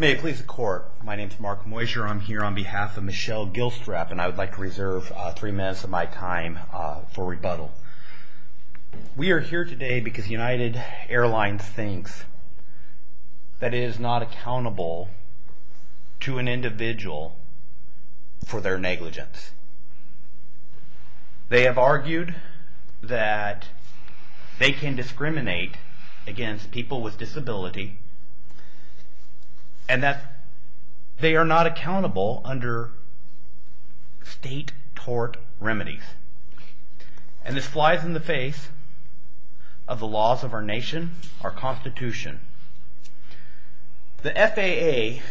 May it please the court, my name is Mark Moisure, I'm here on behalf of Michelle Gilstrap and I would like to reserve three minutes of my time for rebuttal. We are here today because United Airlines thinks that it is not accountable to an individual for their negligence. They have argued that they can discriminate against people with disability and that they are not accountable under state tort remedies. And this flies in the face of the laws of our nation, our constitution. The FAA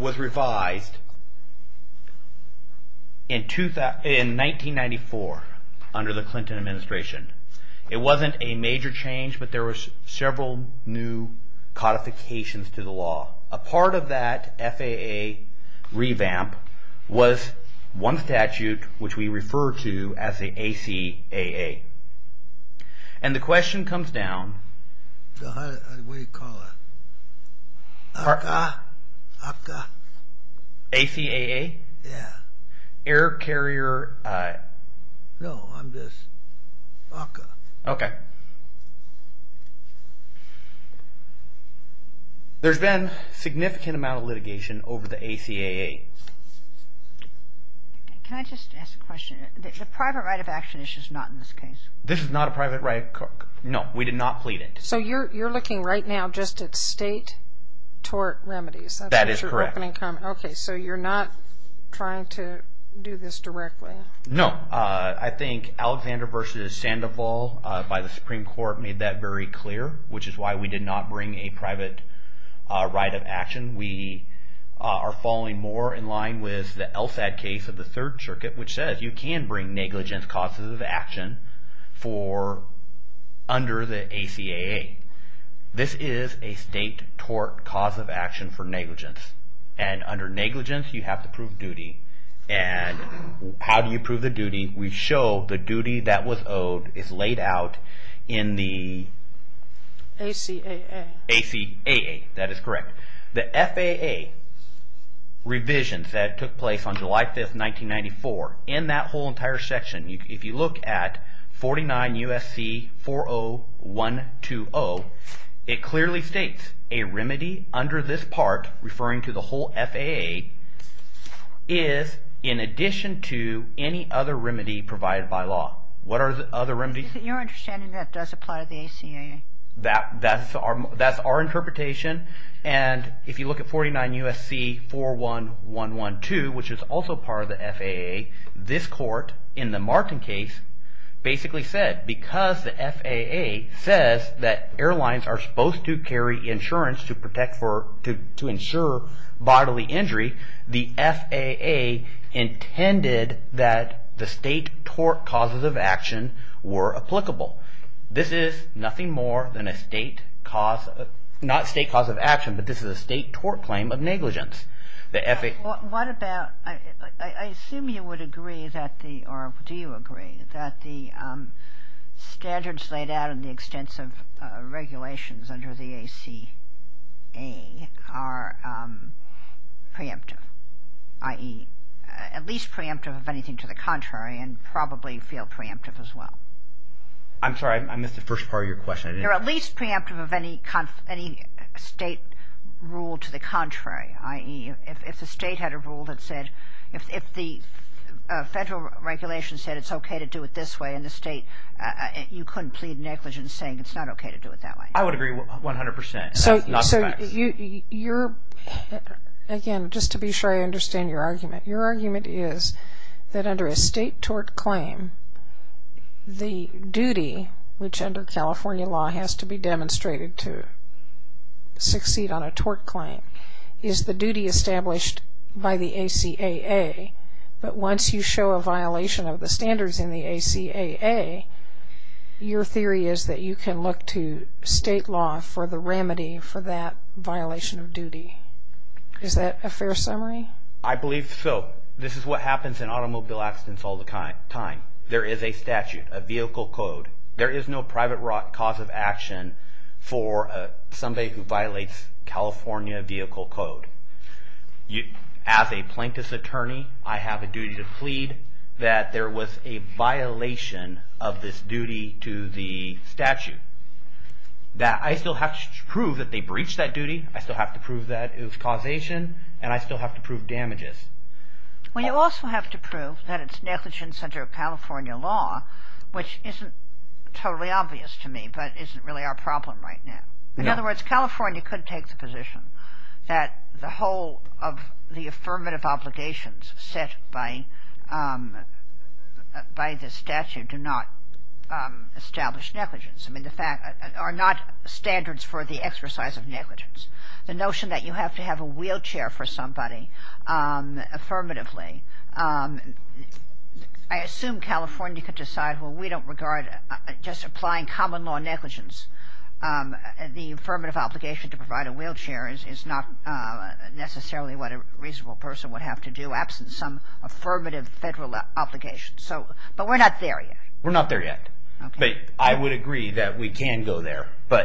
was revised in 1994 under the Clinton administration. It wasn't a major change but there were several new codifications to the law. A part of that FAA revamp was one statute which we refer to as the ACAA. And the question comes down... What do you call it? ACAA? ACAA? Yeah. Air Carrier... No, I'm just... ACAA. Okay. There's been a significant amount of litigation over the ACAA. Can I just ask a question? The private right of action issue is not in this case? This is not a private right of... No, we did not plead it. So you're looking right now just at state tort remedies? That is correct. Okay, so you're not trying to do this directly? No, I think Alexander v. Sandoval by the Supreme Court made that very clear, which is why we did not bring a private right of action. We are following more in line with the LSAD case of the Third Circuit, which says you can bring negligence causes of action under the ACAA. This is a state tort cause of action for negligence. And under negligence you have to prove duty. And how do you prove the duty? We show the duty that was owed is laid out in the... ACAA. ACAA, that is correct. The FAA revisions that took place on July 5, 1994, in that whole entire section, if you look at 49 U.S.C. 40120, it clearly states a remedy under this part, referring to the whole FAA, is in addition to any other remedy provided by law. What are the other remedies? Your understanding is that does apply to the ACAA? That is our interpretation. And if you look at 49 U.S.C. 41112, which is also part of the FAA, this court in the Martin case basically said because the FAA says that airlines are supposed to carry insurance to ensure bodily injury, the FAA intended that the state tort causes of action were applicable. This is nothing more than a state cause, not state cause of action, but this is a state tort claim of negligence. What about, I assume you would agree that the, or do you agree, that the standards laid out in the extensive regulations under the ACAA are preemptive, i.e. at least preemptive of anything to the contrary and probably feel preemptive as well. I'm sorry, I missed the first part of your question. They're at least preemptive of any state rule to the contrary, i.e. if the state had a rule that said, if the federal regulation said it's okay to do it this way in the state, you couldn't plead negligence saying it's not okay to do it that way. I would agree 100%. So you're, again, just to be sure I understand your argument, your argument is that under a state tort claim, the duty, which under California law has to be demonstrated to succeed on a tort claim, is the duty established by the ACAA, but once you show a violation of the standards in the ACAA, your theory is that you can look to state law for the remedy for that violation of duty. Is that a fair summary? I believe so. This is what happens in automobile accidents all the time. There is a statute, a vehicle code. There is no private cause of action for somebody who violates California vehicle code. As a plaintiff's attorney, I have a duty to plead that there was a violation of this duty to the statute. I still have to prove that it was causation, and I still have to prove damages. Well, you also have to prove that it's negligence under California law, which isn't totally obvious to me, but isn't really our problem right now. In other words, California could take the position that the whole of the affirmative obligations set by the statute do not establish negligence, are not standards for the exercise of negligence. The notion that you have to have a wheelchair for somebody affirmatively, I assume California could decide, well, we don't regard just applying common law negligence. The affirmative obligation to provide a wheelchair is not necessarily what a reasonable person would have to do absent some affirmative federal obligation. But we're not there yet. We're not there yet. But I would agree that we can go there. So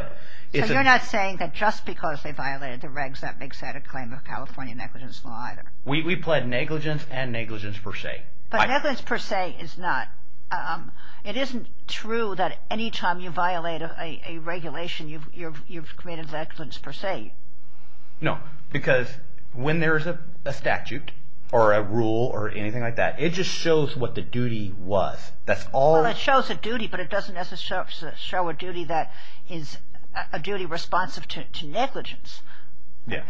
you're not saying that just because they violated the regs, that makes that a claim of California negligence law either? We plead negligence and negligence per se. But negligence per se is not. It isn't true that any time you violate a regulation, you've committed negligence per se. No, because when there's a statute or a rule or anything like that, it just shows what the duty was. Well, it shows a duty, but it doesn't necessarily show a duty that is a duty responsive to negligence.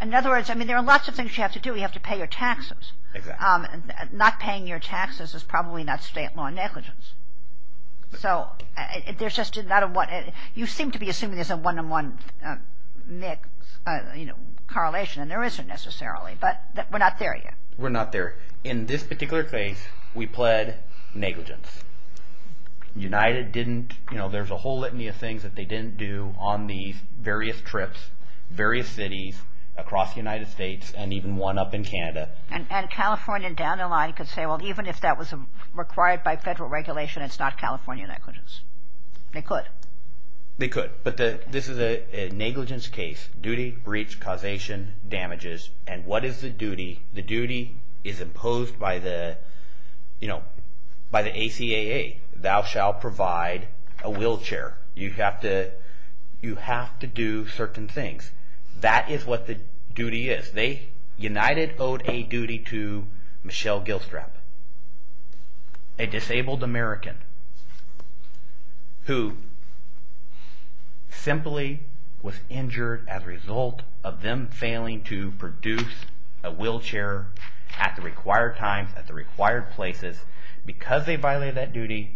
In other words, I mean, there are lots of things you have to do. You have to pay your taxes. Not paying your taxes is probably not state law negligence. So there's just not a one. You seem to be assuming there's a one-on-one correlation, and there isn't necessarily. But we're not there yet. We're not there. In this particular case, we pled negligence. United didn't. There's a whole litany of things that they didn't do on these various trips, various cities across the United States and even one up in Canada. And California down the line could say, well, even if that was required by federal regulation, it's not California negligence. They could. They could, but this is a negligence case. Duty, breach, causation, damages. And what is the duty? The duty is imposed by the ACAA. Thou shall provide a wheelchair. You have to do certain things. That is what the duty is. United owed a duty to Michelle Gilstrap, a disabled American, who simply was injured as a result of them failing to produce a wheelchair at the required times, at the required places. Because they violated that duty,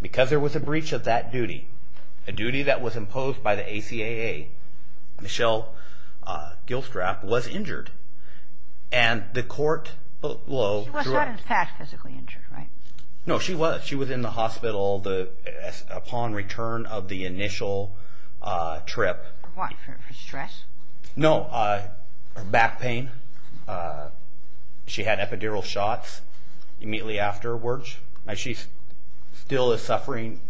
because there was a breach of that duty, a duty that was imposed by the ACAA, Michelle Gilstrap was injured. And the court blow through it. She was not in fact physically injured, right? No, she was. She was in the hospital upon return of the initial trip. For what? For stress? No. Her back pain. She had epidural shots immediately afterwards. She still is suffering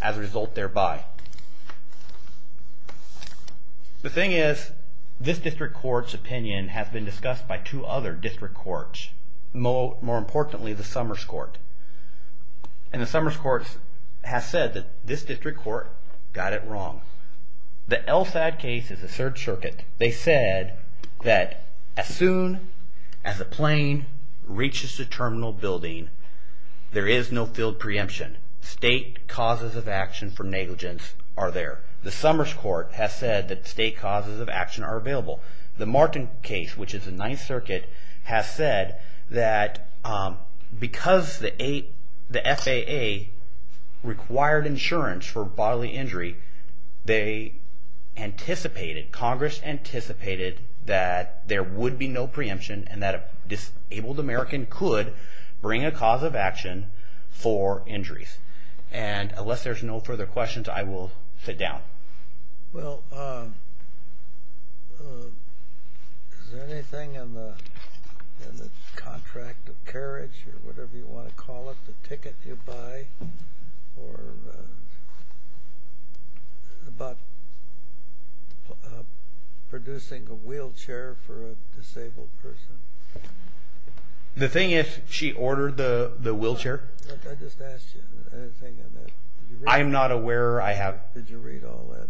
as a result thereby. The thing is, this district court's opinion has been discussed by two other district courts. More importantly, the Summers Court. And the Summers Court has said that this district court got it wrong. The LSAD case is a third circuit. They said that as soon as a plane reaches the terminal building, there is no field preemption. State causes of action for negligence are there. The Summers Court has said that state causes of action are available. The Martin case, which is a ninth circuit, has said that because the FAA required insurance for bodily injury, they anticipated, Congress anticipated that there would be no preemption and that a disabled American could bring a cause of action for injuries. And unless there's no further questions, I will sit down. Well, is there anything in the contract of carriage or whatever you want to call it, a ticket you buy, or about producing a wheelchair for a disabled person? The thing is, she ordered the wheelchair. I just asked you, anything in that. I'm not aware. Did you read all that?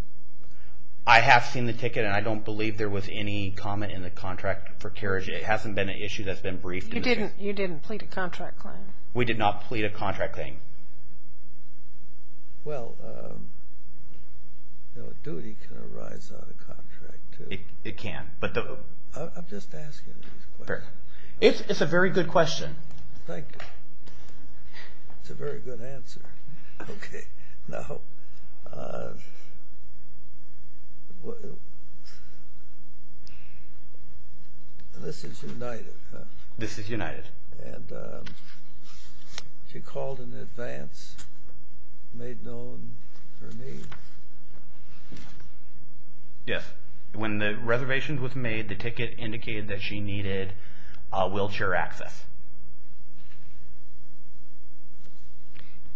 I have seen the ticket and I don't believe there was any comment in the contract for carriage. It hasn't been an issue that's been briefed. You didn't plead a contract claim? We did not plead a contract claim. Well, a duty can arise out of contract, too. It can. I'm just asking these questions. It's a very good question. Thank you. It's a very good answer. Okay, now, this is United. This is United. And she called in advance, made known her need. Yes, when the reservation was made, the ticket indicated that she needed wheelchair access.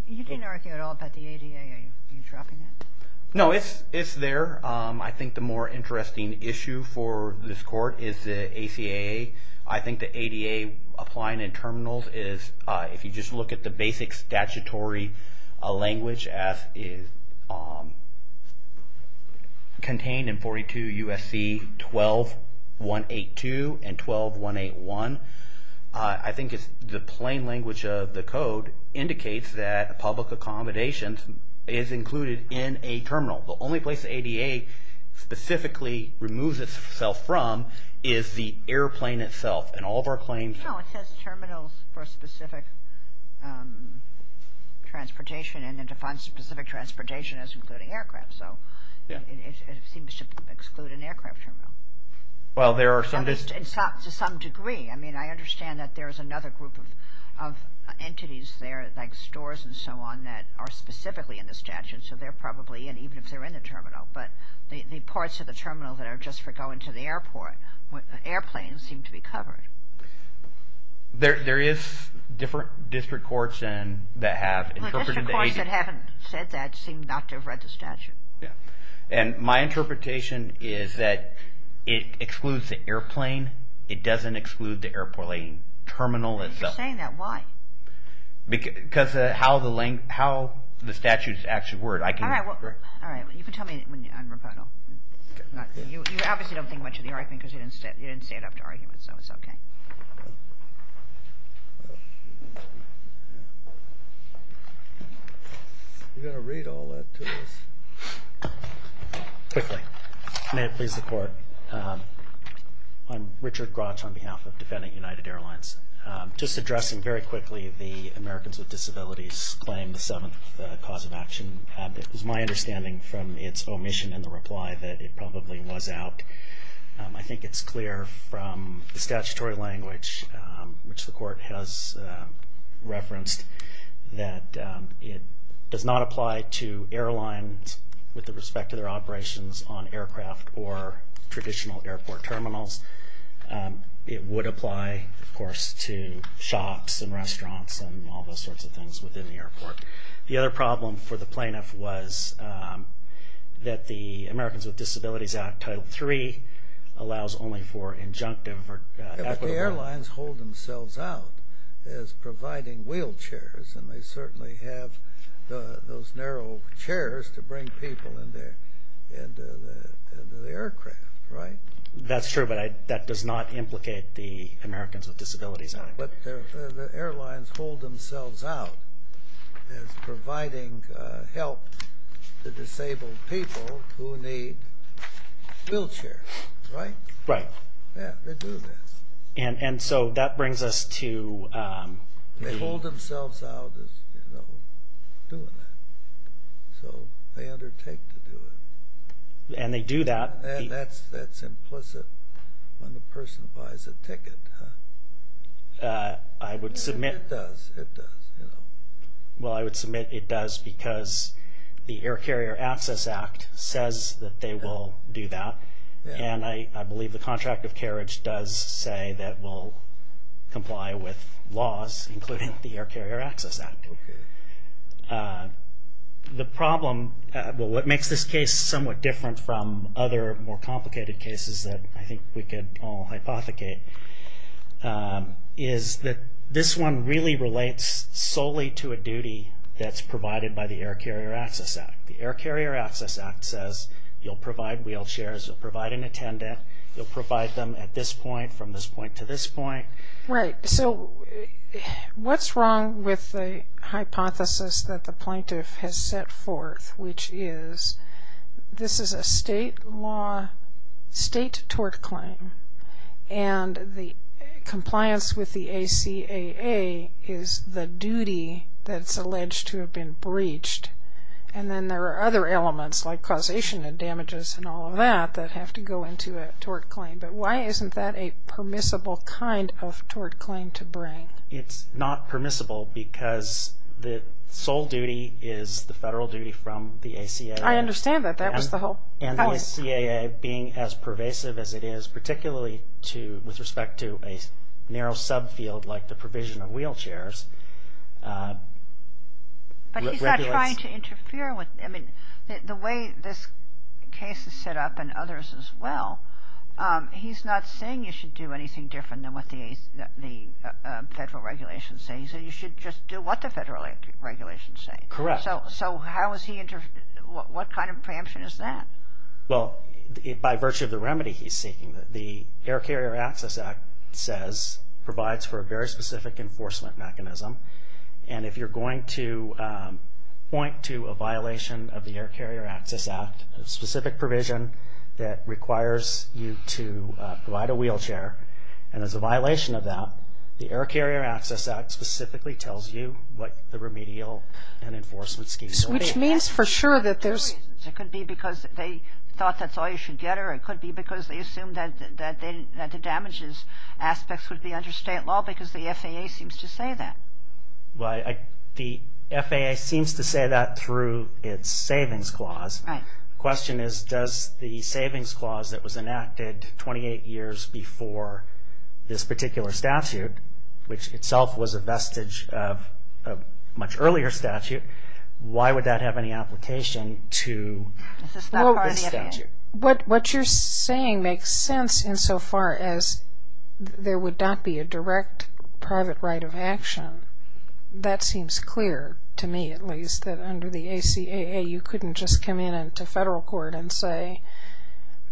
You didn't argue at all about the ADA. Are you dropping that? No, it's there. I think the more interesting issue for this court is the ACAA. I think the ADA applying in terminals is, if you just look at the basic statutory language contained in 42 U.S.C. 12-182 and 12-181, I think the plain language of the code indicates that public accommodation is included in a terminal. The only place the ADA specifically removes itself from is the airplane itself. And all of our claims... No, it says terminals for specific transportation, and then defines specific transportation as including aircraft. So it seems to exclude an aircraft terminal. Well, there are some... To some degree. I mean, I understand that there is another group of entities there, like stores and so on, that are specifically in the statute. So they're probably in, even if they're in the terminal. But the parts of the terminal that are just for going to the airport, airplanes seem to be covered. There is different district courts that have interpreted the ADA... District courts that haven't said that seem not to have read the statute. Yeah. And my interpretation is that it excludes the airplane. It doesn't exclude the airport terminal itself. If you're saying that, why? Because of how the statute is actually worded. All right. You can tell me on rebuttal. You obviously don't think much of the argument because you didn't stand up to argument, so it's okay. You've got to read all that to us. Quickly. May it please the Court. I'm Richard Grotch on behalf of Defendant United Airlines. Just addressing very quickly the Americans with Disabilities Claim, the seventh cause of action. It was my understanding from its omission in the reply that it probably was out. I think it's clear from the statutory language, which the Court has referenced, that it does not apply to airlines with respect to their operations on aircraft or traditional airport terminals. It would apply, of course, to shops and restaurants and all those sorts of things within the airport. The other problem for the plaintiff was that the Americans with Disabilities Act, Title III, allows only for injunctive or equitable... But the airlines hold themselves out as providing wheelchairs, and they certainly have those narrow chairs to bring people into the aircraft, right? That's true, but that does not implicate the Americans with Disabilities Act. But the airlines hold themselves out as providing help to disabled people who need wheelchairs, right? Right. Yeah, they do this. And so that brings us to... They hold themselves out as doing that, so they undertake to do it. And they do that... And that's implicit when the person buys a ticket, huh? I would submit... It does, it does. Well, I would submit it does because the Air Carrier Access Act says that they will do that, and I believe the contract of carriage does say that it will comply with laws, including the Air Carrier Access Act. Okay. The problem... Well, what makes this case somewhat different from other more complicated cases that I think we could all hypothecate is that this one really relates solely to a duty that's provided by the Air Carrier Access Act. The Air Carrier Access Act says you'll provide wheelchairs, you'll provide an attendant, you'll provide them at this point, from this point to this point. Right. So what's wrong with the hypothesis that the plaintiff has set forth, which is this is a state law, state tort claim, and the compliance with the ACAA is the duty that's alleged to have been breached, and then there are other elements like causation and damages and all of that that have to go into a tort claim. But why isn't that a permissible kind of tort claim to bring? It's not permissible because the sole duty is the federal duty from the ACAA. I understand that. That was the whole point. And the ACAA, being as pervasive as it is, particularly with respect to a narrow subfield like the provision of wheelchairs... But he's not trying to interfere with... I mean, the way this case is set up, and others as well, he's not saying you should do anything different than what the federal regulations say. He's saying you should just do what the federal regulations say. Correct. So what kind of preemption is that? Well, by virtue of the remedy he's seeking, the Air Carrier Access Act says provides for a very specific enforcement mechanism, and if you're going to point to a violation of the Air Carrier Access Act, a specific provision that requires you to provide a wheelchair, and there's a violation of that, the Air Carrier Access Act specifically tells you what the remedial and enforcement schemes are. Which means for sure that there's... It could be because they thought that's all you should get, or it could be because they assumed that the damages aspects would be under state law because the FAA seems to say that. The FAA seems to say that through its savings clause. The question is, does the savings clause that was enacted 28 years before this particular statute, which itself was a vestige of a much earlier statute, why would that have any application to this statute? What you're saying makes sense insofar as there would not be a direct private right of action. That seems clear to me at least, that under the ACAA you couldn't just come in to federal court and say,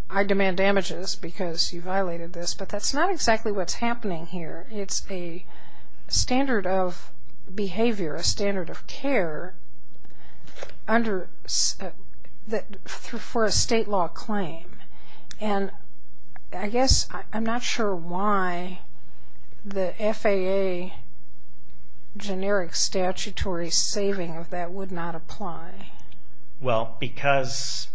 I demand damages because you violated this. But that's not exactly what's happening here. It's a standard of behavior, a standard of care, for a state law claim. And I guess I'm not sure why the FAA generic statutory saving of that would not apply. Well, because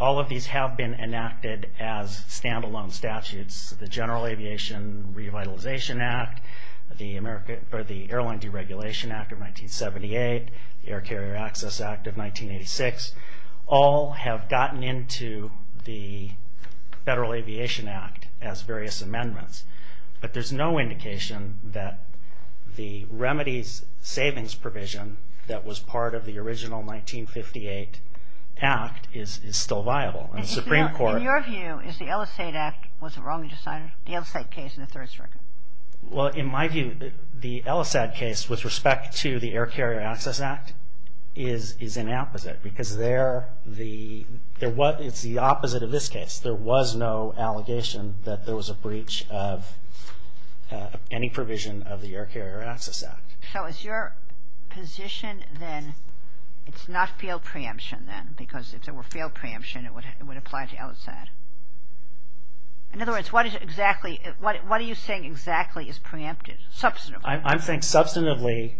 all of these have been enacted as standalone statutes. The General Aviation Revitalization Act, the Airline Deregulation Act of 1978, the Air Carrier Access Act of 1986, all have gotten into the Federal Aviation Act as various amendments. But there's no indication that the remedies savings provision that was part of the original 1958 act is still viable. In your view, is the Ellis-Ade Act, was it wrong to sign the Ellis-Ade case in the third circuit? Well, in my view, the Ellis-Ade case with respect to the Air Carrier Access Act is an opposite. Because it's the opposite of this case. There was no allegation that there was a breach of any provision of the Air Carrier Access Act. So is your position then, it's not failed preemption then? Because if there were failed preemption, it would apply to Ellis-Ade. In other words, what are you saying exactly is preempted, substantively? I think substantively,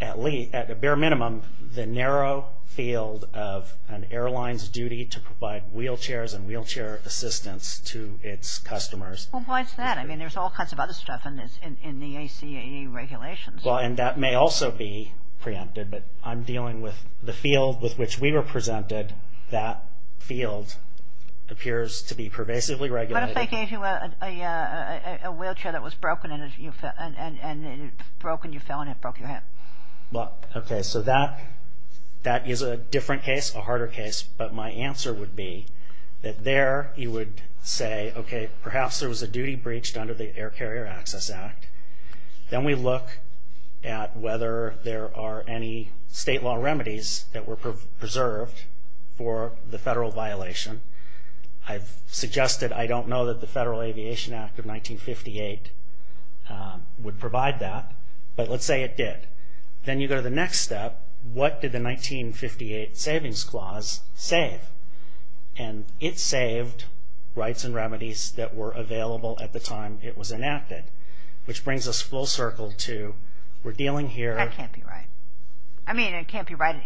at the bare minimum, the narrow field of an airline's duty to provide wheelchairs and wheelchair assistance to its customers. Well, why is that? I mean, there's all kinds of other stuff in the ACAE regulations. Well, and that may also be preempted. But I'm dealing with the field with which we were presented. That field appears to be pervasively regulated. What if they gave you a wheelchair that was broken and you fell and it broke your hip? Okay, so that is a different case, a harder case. But my answer would be that there you would say, okay, perhaps there was a duty breached under the Air Carrier Access Act. Then we look at whether there are any state law remedies that were preserved for the federal violation. I've suggested I don't know that the Federal Aviation Act of 1958 would provide that. But let's say it did. Then you go to the next step, what did the 1958 Savings Clause save? And it saved rights and remedies that were available at the time it was enacted. Which brings us full circle to we're dealing here. That can't be right. I mean, it can't be right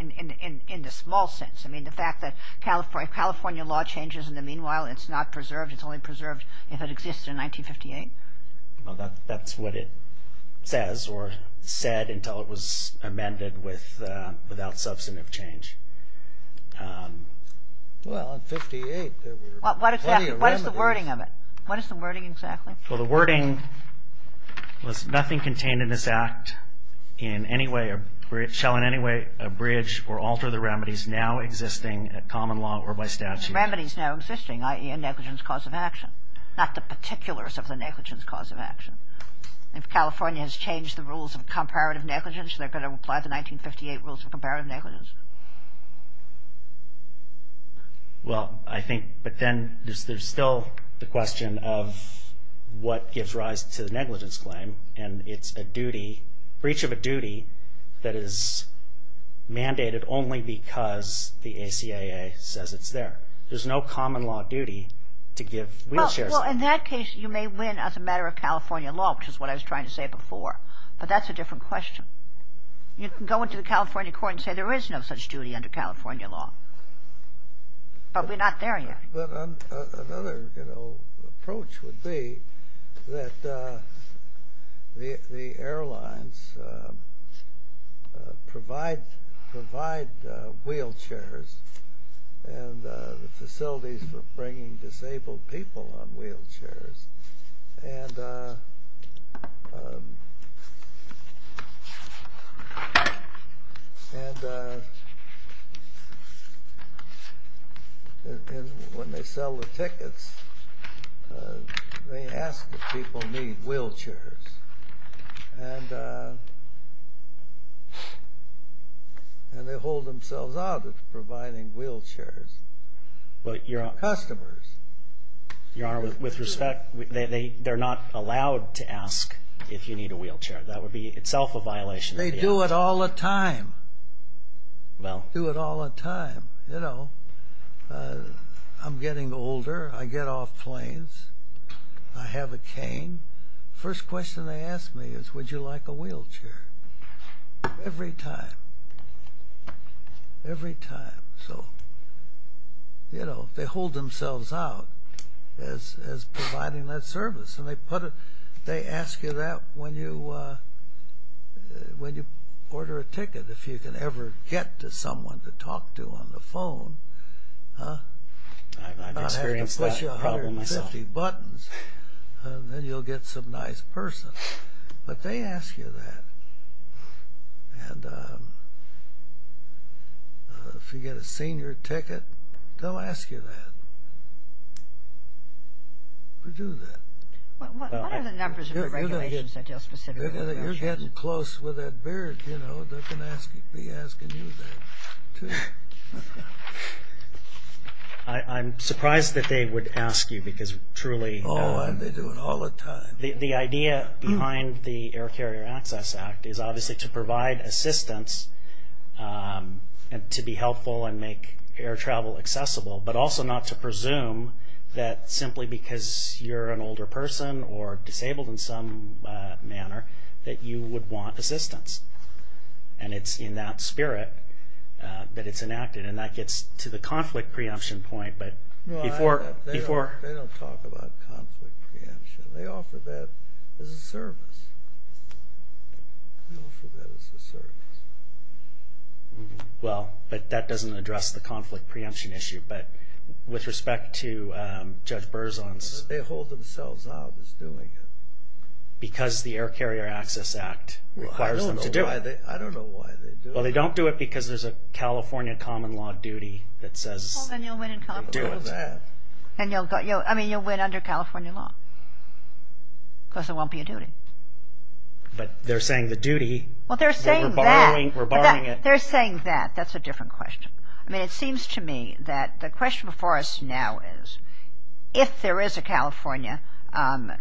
in the small sense. I mean, the fact that California law changes in the meanwhile, it's not preserved. It's only preserved if it existed in 1958. Well, that's what it says or said until it was amended without substantive change. Well, in 1958 there were plenty of remedies. What is the wording of it? What is the wording exactly? Well, the wording was nothing contained in this act in any way, shall in any way abridge or alter the remedies now existing at common law or by statute. Remedies now existing, i.e. a negligence cause of action. Not the particulars of the negligence cause of action. If California has changed the rules of comparative negligence, they're going to apply the 1958 rules of comparative negligence. Well, I think, but then there's still the question of what gives rise to the negligence claim. And it's a duty, breach of a duty that is mandated only because the ACAA says it's there. There's no common law duty to give wheelchairs. Well, in that case you may win as a matter of California law, which is what I was trying to say before. But that's a different question. You can go into the California court and say there is no such duty under California law, but we're not there yet. But another approach would be that the airlines provide wheelchairs and the facilities for bringing disabled people on wheelchairs and when they sell the tickets they ask if people need wheelchairs and they hold themselves out of providing wheelchairs for customers. Your Honor, with respect, they're not allowed to ask if you need a wheelchair. That would be itself a violation. They do it all the time. Well. Do it all the time. You know, I'm getting older. I get off planes. I have a cane. First question they ask me is, would you like a wheelchair? Every time. Every time. So, you know, they hold themselves out as providing that service. And they ask you that when you order a ticket, if you can ever get to someone to talk to on the phone. I've experienced that problem myself. Not having to push 150 buttons and then you'll get some nice person. But they ask you that. And if you get a senior ticket, they'll ask you that. They do that. What are the numbers of the regulations that deal specifically with that? You're getting close with that beard, you know. They're going to be asking you that too. I'm surprised that they would ask you because truly. Oh, and they do it all the time. The idea behind the Air Carrier Access Act is obviously to provide assistance to be helpful and make air travel accessible, but also not to presume that simply because you're an older person or disabled in some manner that you would want assistance. And it's in that spirit that it's enacted. And that gets to the conflict preemption point. They don't talk about conflict preemption. They offer that as a service. They offer that as a service. Well, but that doesn't address the conflict preemption issue. But with respect to Judge Berzon's. They hold themselves out as doing it. Because the Air Carrier Access Act requires them to do it. I don't know why they do it. Well, they don't do it because there's a California common law duty that says do it. Well, then you'll win in conflict over that. I mean, you'll win under California law. Because there won't be a duty. But they're saying the duty. Well, they're saying that. We're borrowing it. They're saying that. That's a different question. I mean, it seems to me that the question before us now is if there is a California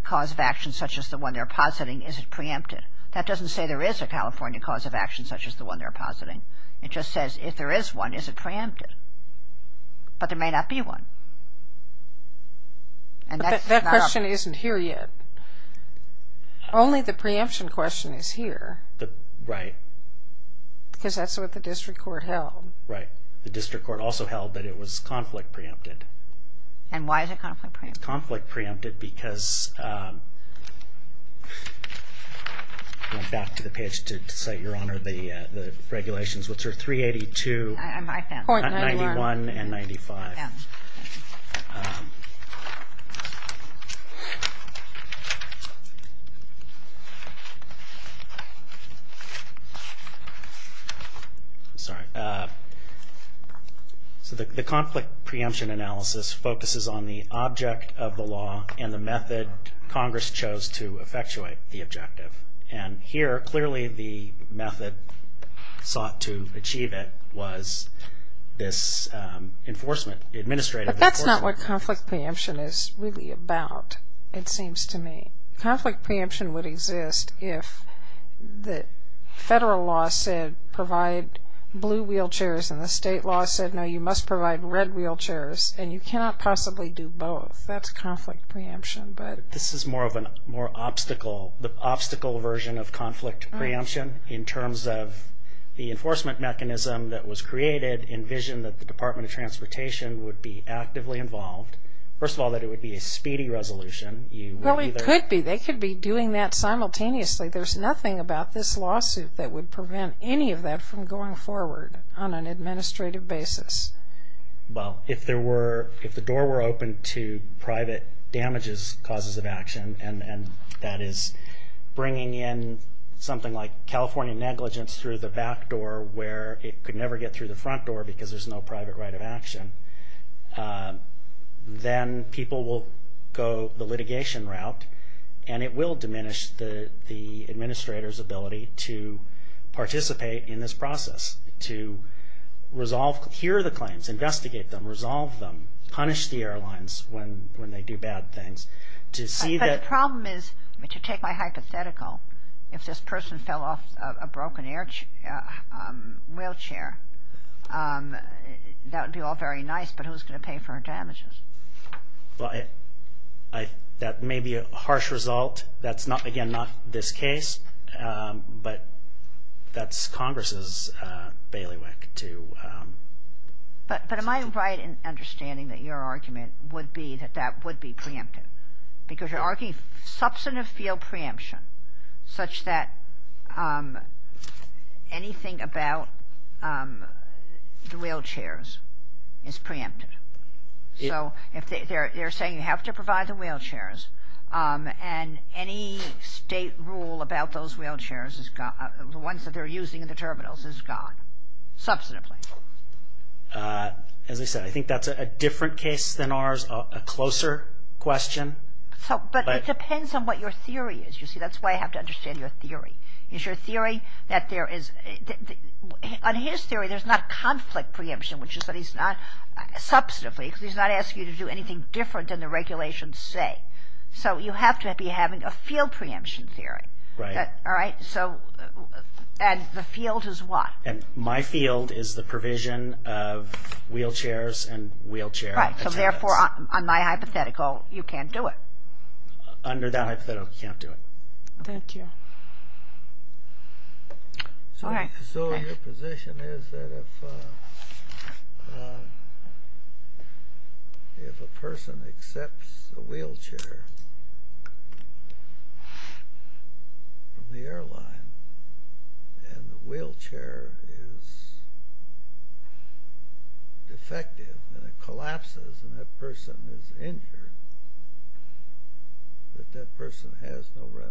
cause of action such as the one they're positing, is it preempted? That doesn't say there is a California cause of action such as the one they're positing. It just says if there is one, is it preempted? But there may not be one. That question isn't here yet. Only the preemption question is here. Right. Because that's what the district court held. Right. The district court also held that it was conflict preempted. And why is it conflict preempted? It's conflict preempted because I went back to the page to cite, Your Honor, the regulations, which are 382, 91, and 95. I'm sorry. So the conflict preemption analysis focuses on the object of the law and the method Congress chose to effectuate the objective. And here, clearly, the method sought to achieve it was this enforcement, administrative enforcement. But that's not what conflict preemption is really about, it seems to me. Conflict preemption would exist if the federal law said provide blue wheelchairs and the state law said, no, you must provide red wheelchairs, and you cannot possibly do both. That's conflict preemption. This is more of an obstacle version of conflict preemption in terms of the enforcement mechanism that was created, envisioned that the Department of Transportation would be actively involved. First of all, that it would be a speedy resolution. Well, it could be. They could be doing that simultaneously. There's nothing about this lawsuit that would prevent any of that from going forward on an administrative basis. Well, if the door were open to private damages, causes of action, and that is bringing in something like California negligence through the back door where it could never get through the front door because there's no private right of action, then people will go the litigation route, and it will diminish the administrator's ability to participate in this process, to resolve. Hear the claims. Investigate them. Resolve them. Punish the airlines when they do bad things. But the problem is, to take my hypothetical, if this person fell off a broken wheelchair, that would be all very nice, but who's going to pay for her damages? Well, that may be a harsh result. That's, again, not this case, but that's Congress's bailiwick to... But am I right in understanding that your argument would be that that would be preempted? Because you're arguing substantive field preemption such that anything about the wheelchairs is preempted. So they're saying you have to provide the wheelchairs, and any state rule about those wheelchairs, the ones that they're using in the terminals, is gone, substantively. As I said, I think that's a different case than ours, a closer question. But it depends on what your theory is. You see, that's why I have to understand your theory. Is your theory that there is... On his theory, there's not conflict preemption, which is that he's not, substantively, because he's not asking you to do anything different than the regulations say. So you have to be having a field preemption theory. Right. All right? So... And the field is what? And my field is the provision of wheelchairs and wheelchair... Right. So therefore, on my hypothetical, you can't do it. Under that hypothetical, you can't do it. Thank you. All right. So your position is that if a person accepts a wheelchair from the airline and the wheelchair is defective and it collapses and that person is injured, that that person has no remedy.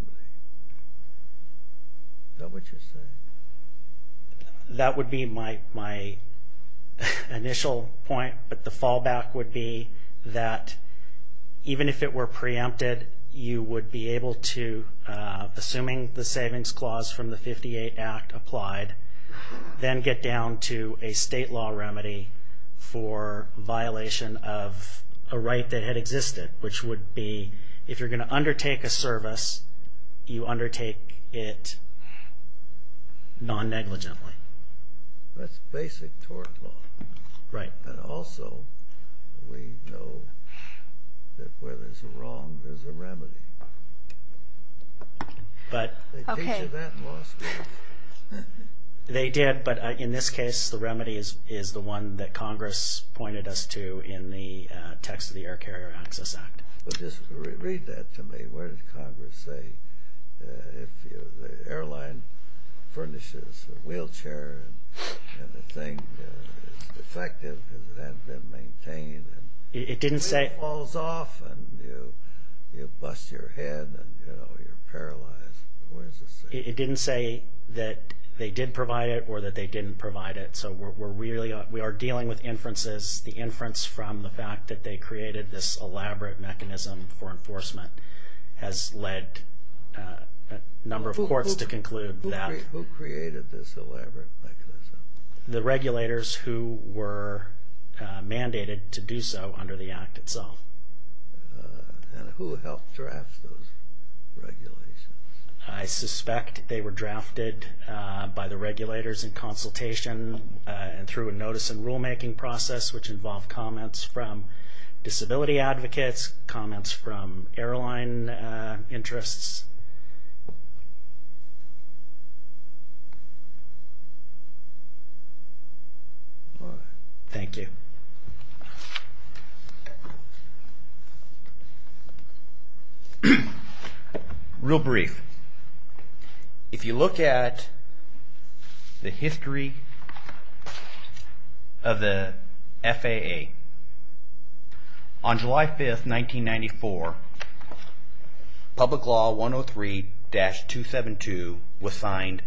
Is that what you're saying? That would be my initial point. But the fallback would be that even if it were preempted, you would be able to, assuming the savings clause from the 58 Act applied, then get down to a state law remedy for violation of a right that had existed, which would be if you're going to undertake a service, you undertake it non-negligently. That's basic tort law. Right. And also we know that where there's a wrong, there's a remedy. They teach you that in law school. They did, but in this case, the remedy is the one that Congress pointed us to in the text of the Air Carrier Access Act. But just read that to me. What did Congress say? If the airline furnishes a wheelchair and the thing is defective because it hasn't been maintained and it falls off and you bust your head and, you know, you're paralyzed. What does it say? It didn't say that they did provide it or that they didn't provide it. So we are dealing with inferences. The inference from the fact that they created this elaborate mechanism for enforcement has led a number of courts to conclude that. Who created this elaborate mechanism? The regulators who were mandated to do so under the Act itself. And who helped draft those regulations? I suspect they were drafted by the regulators in consultation and through a notice and rulemaking process, which involved comments from disability advocates, comments from airline interests. Thank you. Real brief. If you look at the history of the FAA, on July 5, 1994, Public Law 103-272 was signed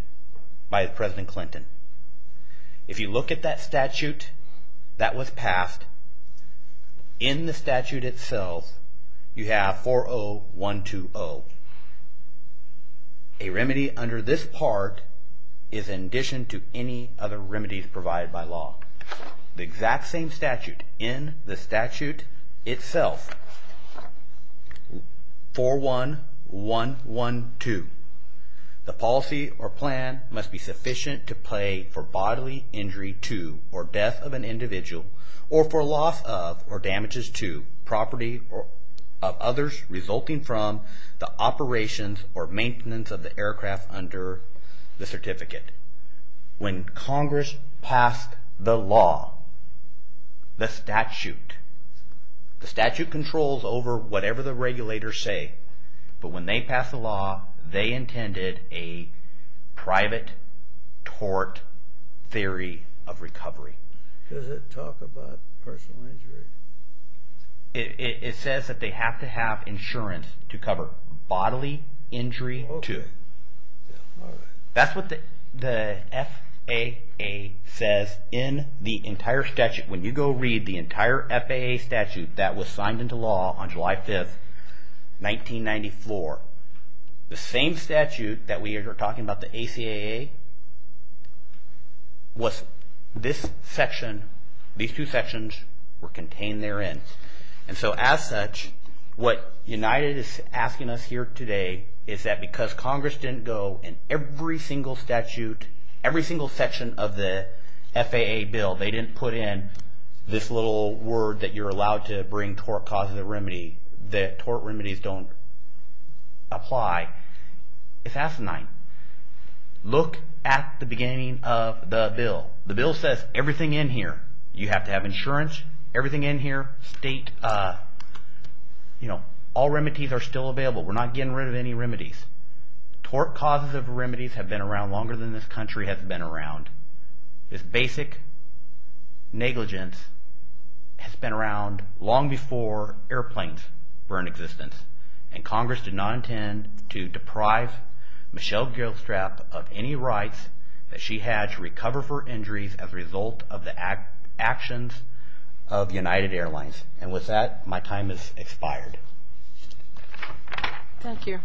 by President Clinton. If you look at that statute that was passed, in the statute itself, you have 40120. A remedy under this part is in addition to any other remedies provided by law. The exact same statute in the statute itself, 41112. The policy or plan must be sufficient to pay for bodily injury to or death of an individual or for loss of or damages to property of others resulting from the operations or maintenance of the aircraft under the certificate. When Congress passed the law, the statute, the statute controls over whatever the regulators say. But when they passed the law, they intended a private tort theory of recovery. Does it talk about personal injury? It says that they have to have insurance to cover bodily injury to. That's what the FAA says in the entire statute. When you go read the entire FAA statute that was signed into law on July 5, 1994, the same statute that we are talking about, the ACAA, these two sections were contained therein. As such, what United is asking us here today is that because Congress didn't go in every single statute, every single section of the FAA bill, they didn't put in this little word that you're allowed to bring tort causes of remedy, that tort remedies don't apply. It's asinine. Look at the beginning of the bill. The bill says everything in here, you have to have insurance. Everything in here, state – all remedies are still available. We're not getting rid of any remedies. Tort causes of remedies have been around longer than this country has been around. This basic negligence has been around long before airplanes were in existence, and Congress did not intend to deprive Michelle Gilstrap of any rights that she had to recover for injuries as a result of the actions of United Airlines. And with that, my time has expired. Thank you.